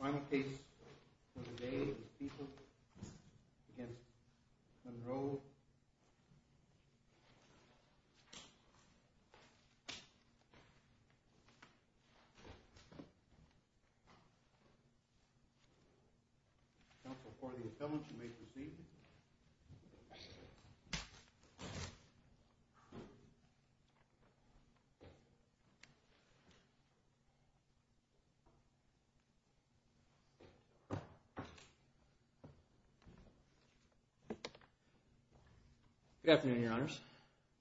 Final case for the day is People v. Monroe, counsel for the appellant, you may proceed. Good afternoon, Your Honors.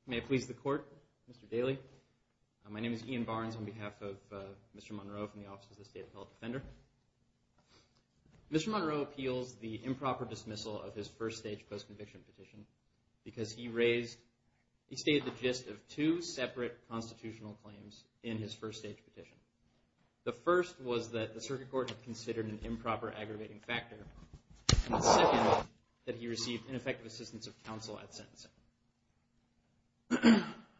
May it please the Court, Mr. Daley. My name is Ian Barnes on behalf of Mr. Monroe from the Office of the State Appellate Defender. Mr. Monroe appeals the improper dismissal of his first-stage post-conviction petition because he raised – he stated the gist of two separate constitutional claims in his first-stage petition. The first was that the circuit court had considered an improper aggravating factor, and the second that he received ineffective assistance of counsel at sentencing.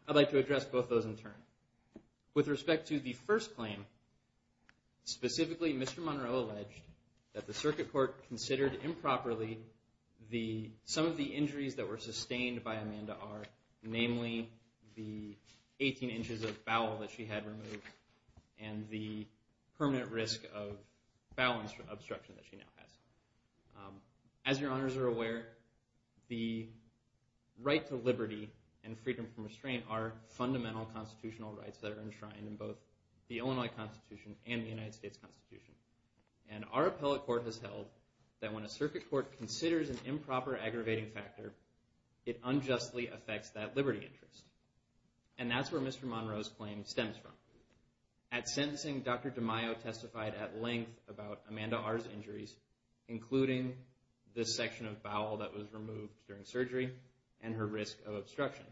I'd like to address both those in turn. With respect to the first claim, specifically Mr. Monroe alleged that the circuit court considered improperly some of the injuries that were sustained by Amanda R., namely the 18 inches of bowel that she had removed, and the permanent risk of bowel obstruction that she now has. As Your Honors are aware, the right to liberty and freedom from restraint are fundamental constitutional rights that are enshrined in both the Illinois Constitution and the United States Constitution. And our appellate court has held that when a circuit court considers an improper aggravating factor, it unjustly affects that liberty interest. And that's where Mr. Monroe's claim stems from. At sentencing, Dr. DeMaio testified at length about Amanda R.'s injuries, including this section of bowel that was removed during surgery and her risk of obstruction.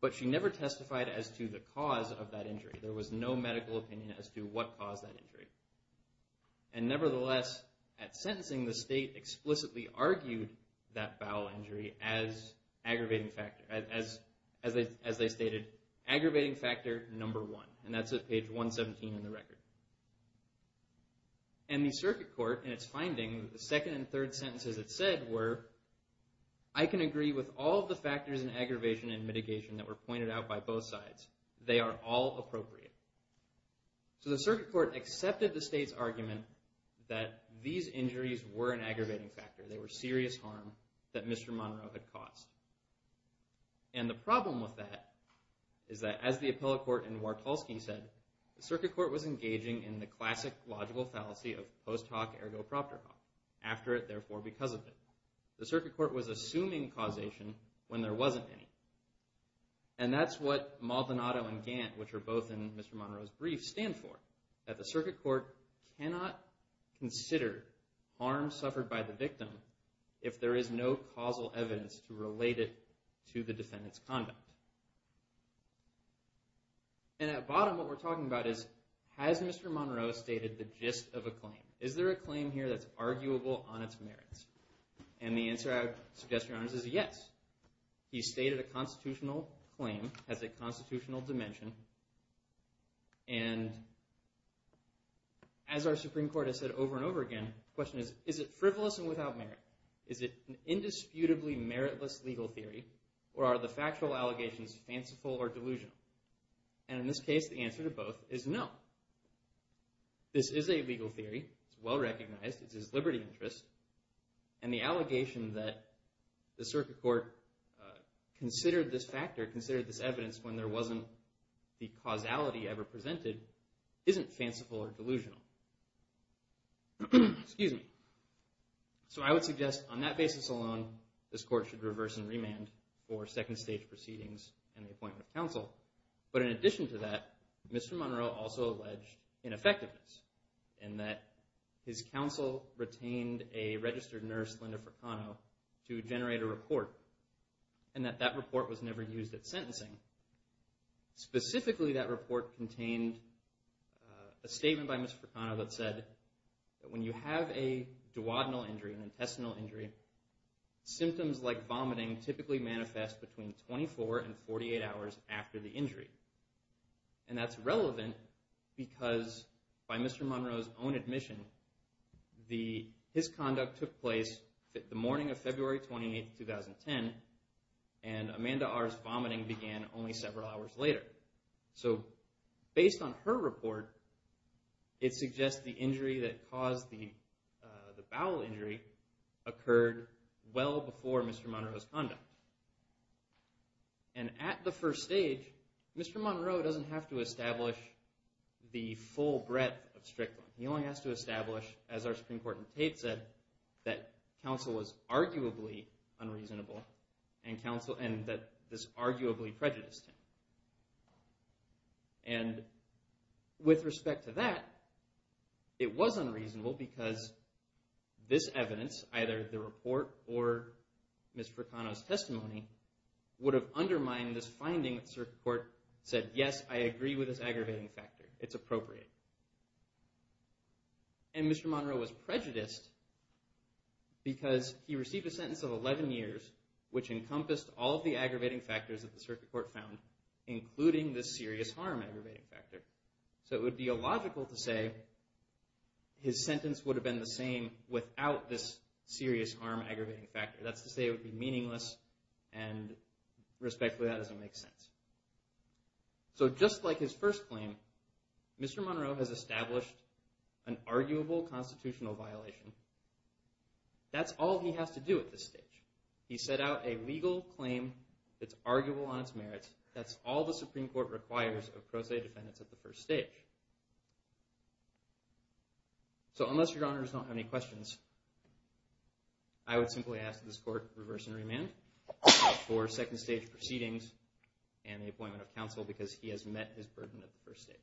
But she never testified as to the cause of that injury. There was no medical opinion as to what caused that injury. And nevertheless, at sentencing, the state explicitly argued that bowel injury as aggravating factor, as they stated, aggravating factor number one. And that's at page 117 in the record. And the circuit court, in its finding, the second and third sentences it said were, I can agree with all the factors and aggravation and mitigation that were pointed out by both sides. They are all appropriate. So the circuit court accepted the state's argument that these injuries were an aggravating factor. They were serious harm that Mr. Monroe had caused. And the problem with that is that, as the appellate court in Wartolski said, the circuit court was engaging in the classic logical fallacy of post hoc ergo proctor hoc. After it, therefore because of it. The circuit court was assuming causation when there wasn't any. And that's what Maldonado and Gant, which are both in Mr. Monroe's brief, stand for. That the circuit court cannot consider harm suffered by the victim if there is no causal evidence to relate it to the defendant's conduct. And at bottom, what we're talking about is, has Mr. Monroe stated the gist of a claim? Is there a claim here that's arguable on its merits? And the constitutional dimension. And as our Supreme Court has said over and over again, the question is, is it frivolous and without merit? Is it an indisputably meritless legal theory? Or are the factual allegations fanciful or delusional? And in this case, the answer to both is no. This is a legal theory. It's well recognized. It's his liberty interest. And the allegation that the circuit court considered this factor, considered this evidence when there wasn't the causality ever presented, isn't fanciful or delusional. So I would suggest on that basis alone, this court should reverse and remand for second stage proceedings and the appointment of counsel. But in addition to that, Mr. Monroe also alleged ineffectiveness in that his counsel retained a registered nurse, Linda Furcano, to generate a report. And that that report was never used at sentencing. Specifically, that report contained a statement by Ms. Furcano that said that when you have a duodenal injury, an intestinal injury, symptoms like vomiting typically manifest between 24 and 48 hours after the injury. And that's relevant because by Mr. Monroe's own admission, his conduct took place the morning of February 28, 2010, and Amanda R.'s vomiting began only several hours later. So based on her report, it suggests the injury that caused the bowel injury occurred well before Mr. Monroe's conduct. And at the first stage, Mr. Monroe doesn't have to establish the full breadth of Strickland. He only has to establish, as our Supreme Court in Tate said, that counsel was arguably unreasonable and that this arguably prejudiced him. And with respect to that, it was unreasonable because this evidence, either the report or Ms. Furcano's testimony, would have undermined this finding that Circuit Court said, yes, I agree with this aggravating factor. It's appropriate. And Mr. Monroe was prejudiced because he received a sentence of 11 years, which encompassed all of the aggravating factors that the Circuit Court found, including this serious harm aggravating factor. So it would be illogical to say his sentence would have been the same without this serious harm aggravating factor. That's to say it would be meaningless, and respectfully, that doesn't make sense. So just like his first claim, Mr. Monroe has established an arguable constitutional violation. That's all he has to do at this stage. He set out a legal claim that's arguable on its merits. That's all the Supreme Court requires of pro se defendants at the first stage. So unless Your Honors don't have any questions, I would simply ask this Court reverse and the appointment of counsel because he has met his burden at the first stage.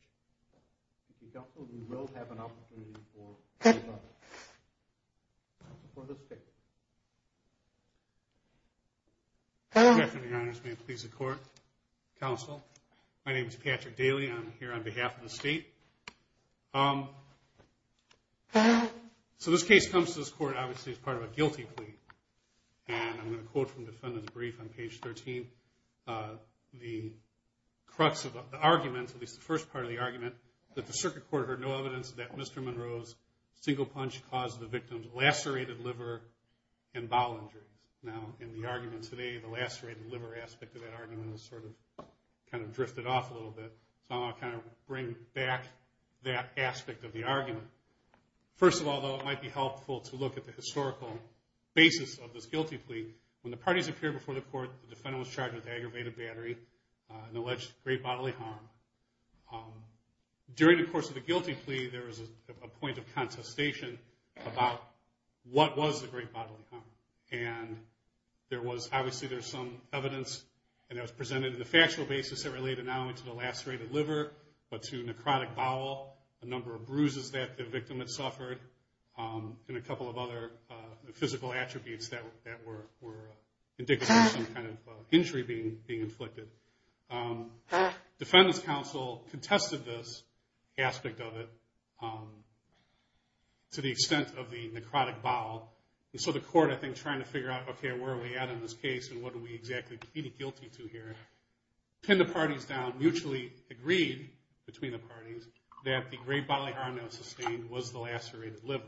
If you counsel, we will have an opportunity for the State. Good afternoon, Your Honors. May it please the Court, Counsel. My name is Patrick Daly, and I'm here on behalf of the State. So this case comes to this Court, obviously, as part of a guilty plea. And I'm going to quote from the defendant's brief on page 13. The crux of the argument, at least the first part of the argument, that the Circuit Court heard no evidence that Mr. Monroe's single punch caused the victim's lacerated liver and bowel injuries. Now in the argument today, the lacerated liver aspect of that argument has sort of kind of drifted off a little bit, so I'll kind of bring back that aspect of the argument. First of all, though, it might be helpful to look at the historical basis of this guilty plea. When the parties appeared before the Court, the defendant was charged with aggravated battery and alleged great bodily harm. During the course of the guilty plea, there was a point of contestation about what was the great bodily harm. And there was, obviously, there's some evidence, and that was presented in the factual basis that related not only to the victim that suffered and a couple of other physical attributes that were indicative of some kind of injury being inflicted. Defendant's counsel contested this aspect of it to the extent of the necrotic bowel. And so the Court, I think, trying to figure out, okay, where are we at in this case, and what are we exactly pleading guilty to here, pinned the parties down, mutually agreed between the parties that the great bodily harm that was sustained was the lacerated liver.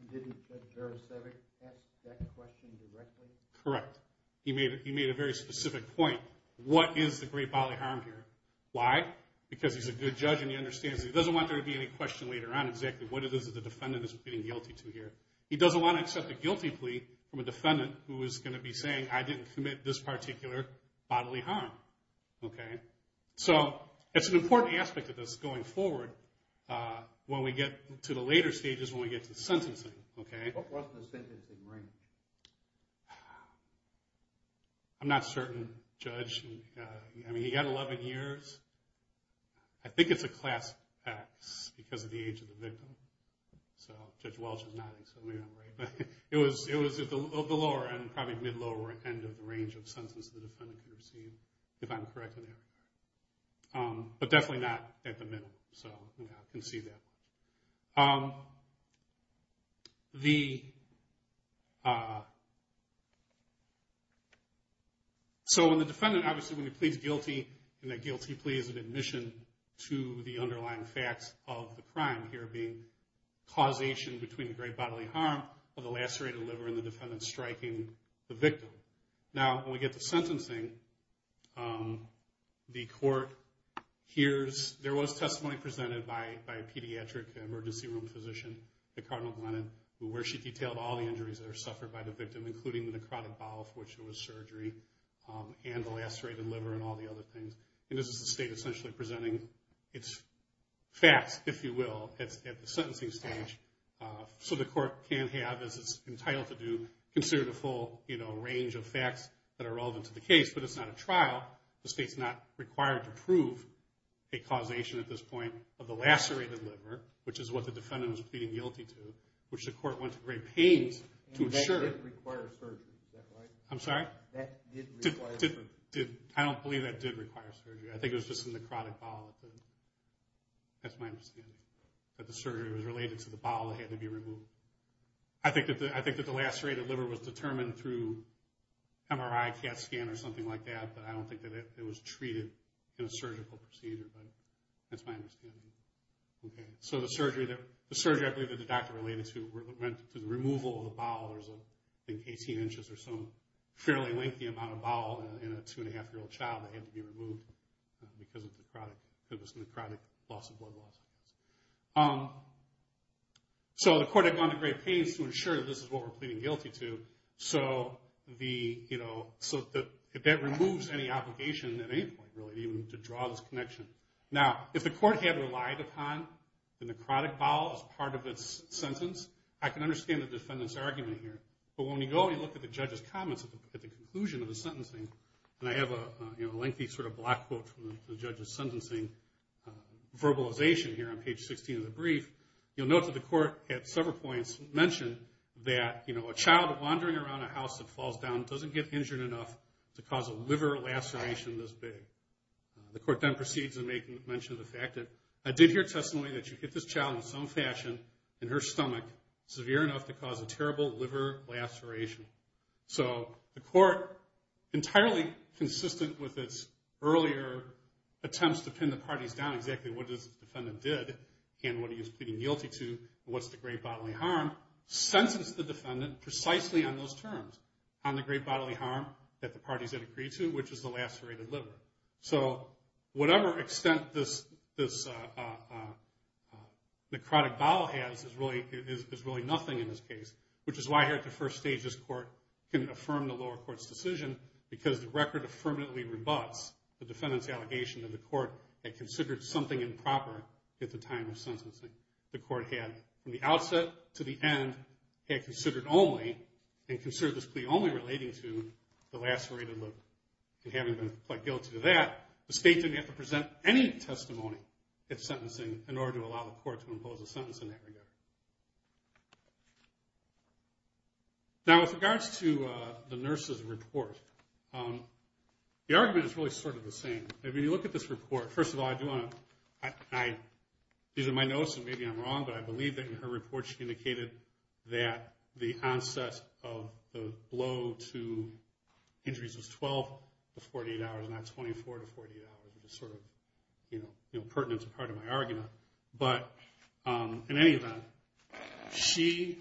And didn't Judge Beresevic ask that question directly? Correct. He made a very specific point. What is the great bodily harm here? Why? Because he's a good judge and he understands that he doesn't want there to be any question later on exactly what it is that the defendant is pleading guilty to here. He doesn't want to accept a guilty plea from a defendant who is going to be saying, I didn't commit this So it's an important aspect of this going forward when we get to the later stages when we get to the sentencing. What was the sentencing range? I'm not certain, Judge. I mean, he got 11 years. I think it's a Class X because of the age of the victim. So Judge Welch is nodding, so maybe I'm right. But it was at the lower end, probably mid-lower end of the range of sentences the defendant could receive, if I'm correct in there. But definitely not at the middle, so I can see that. So when the defendant obviously when he pleads guilty, and that guilty plea is an admission to the underlying facts of the crime here being causation between the great bodily harm of the lacerated liver and the defendant striking the victim. Now, when we get to sentencing, the court hears, there was testimony presented by a pediatric emergency room physician, the Cardinal Glennon, where she detailed all the injuries that are suffered by the victim, including the necrotic bowel for which there was surgery and the lacerated liver and all the other things. And this is the state essentially presenting its facts, if you will, at the sentencing stage. So the court can have, as well, a range of facts that are relevant to the case, but it's not a trial. The state's not required to prove a causation at this point of the lacerated liver, which is what the defendant was pleading guilty to, which the court went to great pains to ensure. That didn't require surgery, is that right? I'm sorry? That didn't require surgery. I don't believe that did require surgery. I think it was just the necrotic bowel. That's my understanding, that the surgery was related to the bowel that had to be removed. I think that the lacerated liver was determined through MRI, CAT scan or something like that, but I don't think that it was treated in a surgical procedure, but that's my understanding. Okay, so the surgery I believe that the doctor related to went to the removal of the bowel. I think 18 inches or so, a fairly lengthy amount of bowel in a two-and-a-half-year-old child that had to be removed because of this necrotic loss of blood loss. So the court had gone to great pains to ensure that this is what we're pleading guilty to, so that removes any obligation at any point, really, even to draw this connection. Now, if the court had relied upon the necrotic bowel as part of its sentence, I can understand the defendant's argument here, but when we go and look at the judge's comments at the conclusion of the sentencing, and I have a lengthy sort of block quote from the judge's verbalization here on page 16 of the brief, you'll note that the court at several points mentioned that a child wandering around a house that falls down doesn't get injured enough to cause a liver laceration this big. The court then proceeds in making mention of the fact that, I did hear testimony that you hit this child in some fashion in her stomach severe enough to cause a terrible liver laceration. So the court, entirely consistent with its earlier attempts to pin the parties down exactly what this defendant did and what he was pleading guilty to and what's the great bodily harm, sentenced the defendant precisely on those terms, on the great bodily harm that the parties had agreed to, which is the lacerated liver. So whatever extent this necrotic bowel has is really nothing in this case, which is why here at the first stage this court can affirm the lower court's decision because the record affirmatively rebuts the defendant's allegation that the court had considered something improper at the time of sentencing. The court had, from the outset to the end, had considered only, and considered this plea only relating to the lacerated liver. And having been pled guilty to that, the state didn't have to present any testimony at sentencing in order to allow the court to impose a sentence in that regard. Now with regards to the nurse's report, the argument is really sort of the same. If you look at this report, first of all, these are my notes and maybe I'm wrong, but I believe that in her report she indicated that the onset of the blow to injuries was 12 to 48 hours, not 24 to 48 hours, which is sort of pertinent to part of my argument. But in any event, she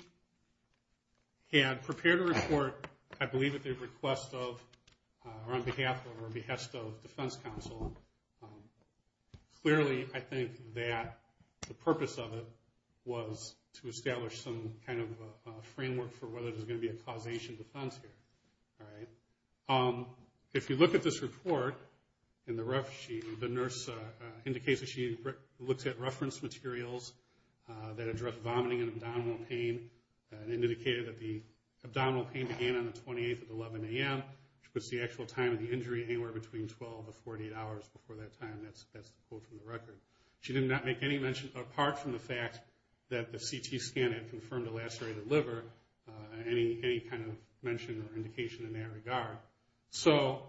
had prepared a report, I believe at the request of or on behalf of or on behest of defense counsel. Clearly I think that the purpose of it was to establish some kind of framework for whether there's going to be a causation defense here. If you look at this report in the rough sheet, the nurse indicates that she looked at reference materials that address vomiting and abdominal pain and indicated that the abdominal pain began on the 28th at 11 a.m., which puts the actual time of the injury anywhere between 12 to 48 hours before that time. That's the quote from the record. She did not make any mention, apart from the fact that the CT scan had confirmed a lacerated liver, any kind of mention or indication in that regard. So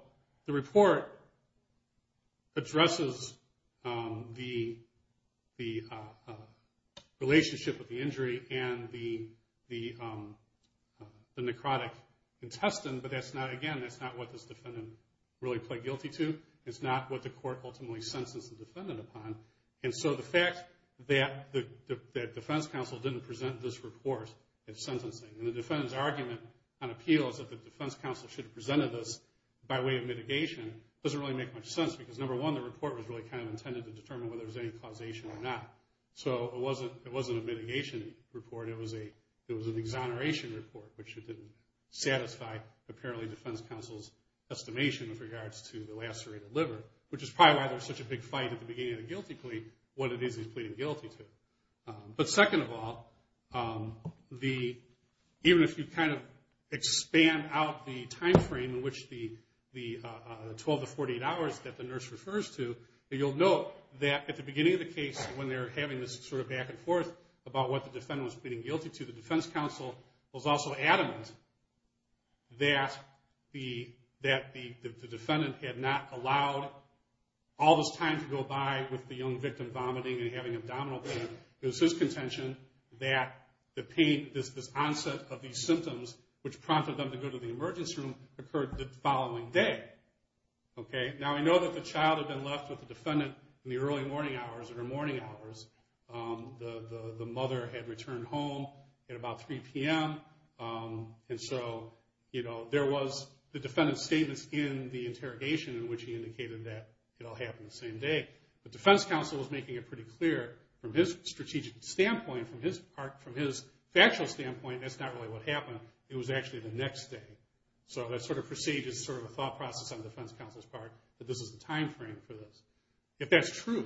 the report addresses the relationship with the injury and the necrotic intestine, but that's not, again, that's not what this defendant really pled guilty to. It's not what the court ultimately sentenced the defendant upon. And so the fact that the defense counsel didn't present this report in sentencing, and the defendant's argument on appeal is that the defense counsel should have presented this by way of mitigation, doesn't really make much sense because number one, the report was really kind of intended to determine whether there was any causation or not. So it wasn't a mitigation report. It was an exoneration report, which didn't satisfy apparently defense counsel's estimation with regards to the lacerated liver, which is probably why there was such a big fight at the beginning of the guilty plea, what it is he's pleading guilty to. But second of all, even if you kind of expand out the timeframe in which the 12 to 48 hours that the nurse refers to, you'll note that at the beginning of the case when they're having this sort of back and forth about what the defendant was pleading guilty to, the defense counsel was also adamant that the defendant had not allowed all this time to go by with the young victim vomiting and having abdominal pain. It was his contention that this onset of these symptoms, which prompted them to go to the emergency room, occurred the following day. Now, we know that the child had been left with the defendant in the early morning hours or the morning hours. The mother had returned home at about 3 p.m. And so there was the defendant's statements in the interrogation in which he indicated that it all happened the same day. The defense counsel was making it pretty clear from his strategic standpoint, from his factual standpoint, that's not really what happened. It was actually the next day. So that sort of precedes sort of a thought process on the defense counsel's part that this is the timeframe for this. If that's true,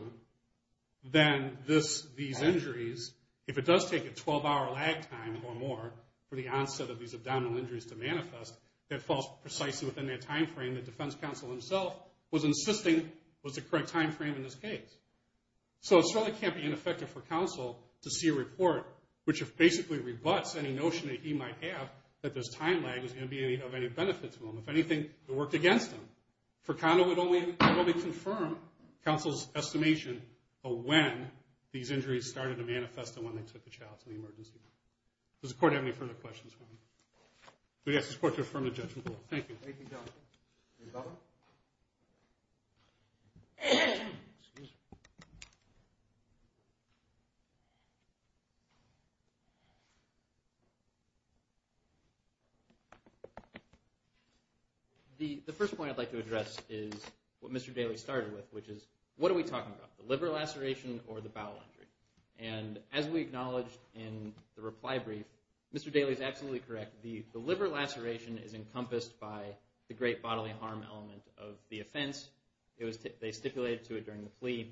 then these injuries, if it does take a 12-hour lag time or more for the onset of these abdominal injuries to manifest, that falls precisely within that timeframe that defense counsel himself was insisting was the correct timeframe in this case. So it certainly can't be ineffective for counsel to see a report which basically rebuts any notion that he might have that this time lag was going to be of any benefit to him. If anything, it worked against him. For Condo, it would only confirm counsel's estimation of when these injuries started to manifest and when they took the child to the emergency room. Does the Court have any further questions? We ask the Court to affirm the judgment. Thank you. The first point I'd like to address is what Mr. Daley started with, which is what are we talking about, the liver laceration or the bowel injury? As we acknowledged in the reply brief, Mr. Daley is absolutely correct. The liver laceration is encompassed by the great bodily harm element of the offense. They stipulated to it during the plea,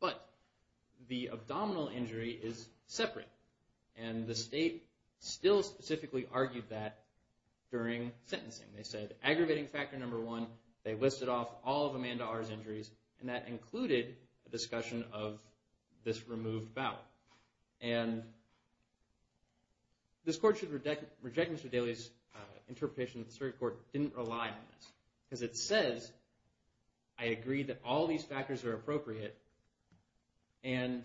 but the abdominal injury is separate. The state still specifically argued that during sentencing. They said aggravating factor number one, they listed off all of Amanda R.'s injuries, and that included a discussion of this removed bowel. And this Court should reject Mr. Daley's interpretation that the circuit court didn't rely on this, because it says, I agree that all these factors are appropriate, and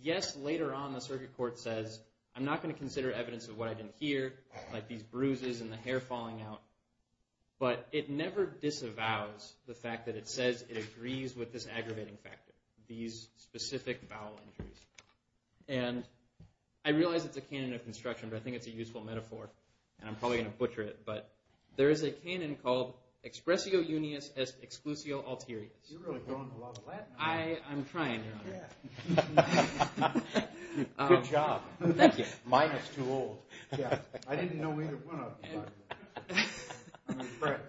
yes, later on the circuit court says, I'm not going to consider evidence of what I didn't hear, like these bruises and the hair falling out, but it never disavows the fact that it says it agrees with this aggravating factor, these specific bowel injuries. And I realize it's a canon of construction, but I think it's a useful metaphor, and I'm probably going to butcher it, but there is a canon called expressio unius exclusio alterius. You're really going a lot of Latin there. I'm trying, Your Honor. Good job. Thank you. Mine is too old. I didn't know either one of them.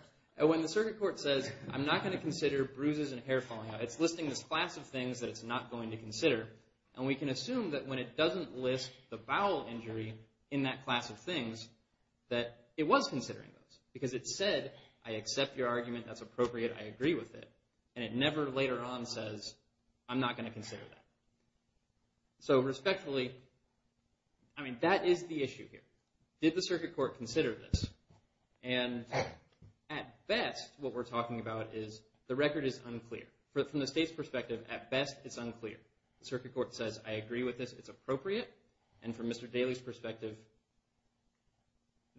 When the circuit court says, I'm not going to consider bruises and hair falling out, it's listing this class of things that it's not going to consider, and we can assume that when it doesn't list the bowel injury in that class of things, that it was considering those, because it said, I accept your argument, that's appropriate, I agree with it, and it never later on says, I'm not going to consider that. So respectfully, I mean, that is the issue here. Did the circuit court consider this? And at best, what we're talking about is the record is unclear. From the state's perspective, at best, it's unclear. The circuit court says, I agree with this, it's appropriate. And from Mr. Daley's perspective,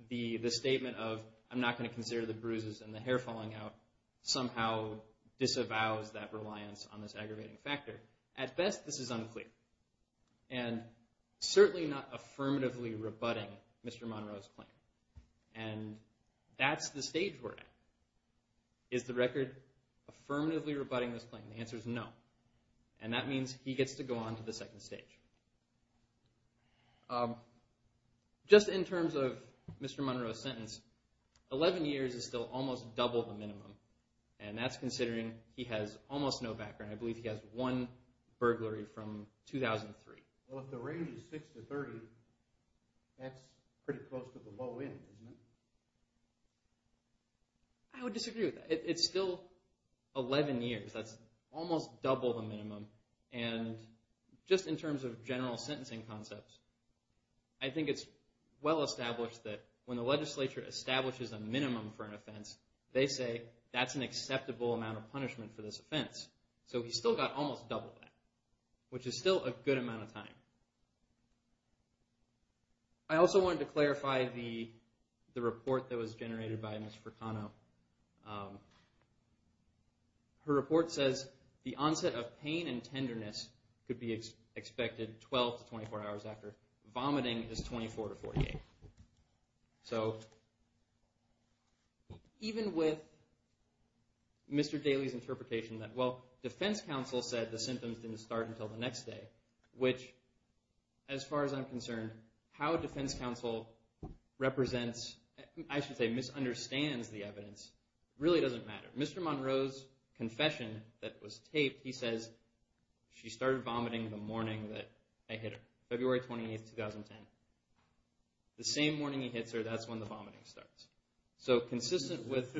the statement of, I'm not going to consider the bruises and the hair falling out, somehow disavows that reliance on this aggravating factor. At best, this is unclear. And certainly not affirmatively rebutting Mr. Monroe's claim. And that's the stage we're at. Is the record affirmatively rebutting this claim? The answer is no. And that means he gets to go on to the second stage. Just in terms of Mr. Monroe's sentence, 11 years is still almost double the minimum, and that's considering he has almost no background. I believe he has one burglary from 2003. Well, if the range is 6 to 30, that's pretty close to the low end, isn't it? I would disagree with that. It's still 11 years. That's almost double the minimum. And just in terms of general sentencing concepts, I think it's well established that when the legislature establishes a minimum for an offense, they say that's an acceptable amount of punishment for this offense. So he's still got almost double that, which is still a good amount of time. I also wanted to clarify the report that was generated by Ms. Furcano. Her report says the onset of pain and tenderness could be expected 12 to 24 hours after. Vomiting is 24 to 48. So even with Mr. Daley's interpretation that, well, defense counsel said the symptoms didn't start until the next day, which as far as I'm concerned, how defense counsel represents, I should say misunderstands the evidence really doesn't matter. Mr. Monroe's confession that was taped, he says, she started vomiting the morning that I hit her, February 28, 2010. The same morning he hits her, that's when the vomiting starts. So consistent with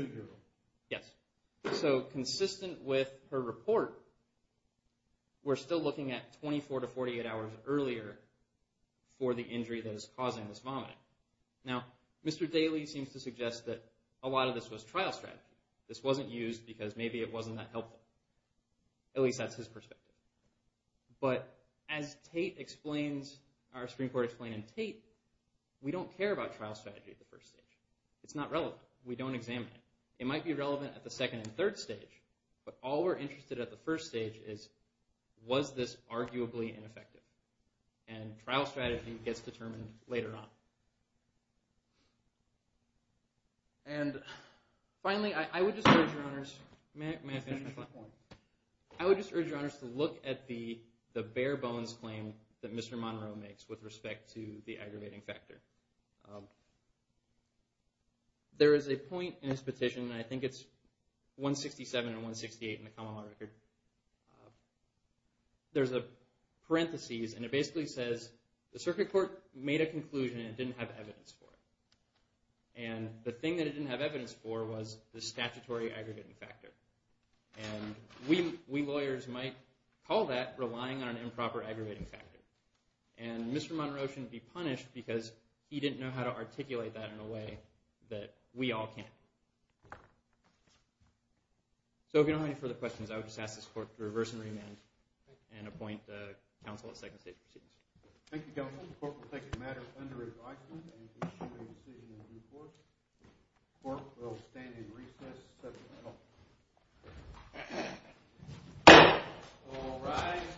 her report, we're still looking at 24 to 48 hours earlier for the injury that is causing this vomiting. Now, Mr. Daley seems to suggest that a lot of this was trial strategy. At least that's his perspective. But as our Supreme Court explained in Tate, we don't care about trial strategy at the first stage. It's not relevant. We don't examine it. It might be relevant at the second and third stage, but all we're interested at the first stage is, was this arguably ineffective? And trial strategy gets determined later on. And finally, I would just urge your honors to look at the bare bones claim that Mr. Monroe makes with respect to the aggravating factor. There is a point in his petition, and I think it's 167 and 168 in the common law record. There's a parenthesis, and it basically says, the circuit court made a conclusion, and it didn't have evidence for it. And the thing that it didn't have evidence for was the statutory aggravating factor. And we lawyers might call that relying on an improper aggravating factor. And Mr. Monroe shouldn't be punished because he didn't know how to articulate that in a way that we all can. So if you don't have any further questions, I would just ask this court to reverse and remand and appoint counsel at second stage proceedings. Thank you, counsel. The court will take the matter under advisement and issue a decision in due course. The court will stand in recess. All rise.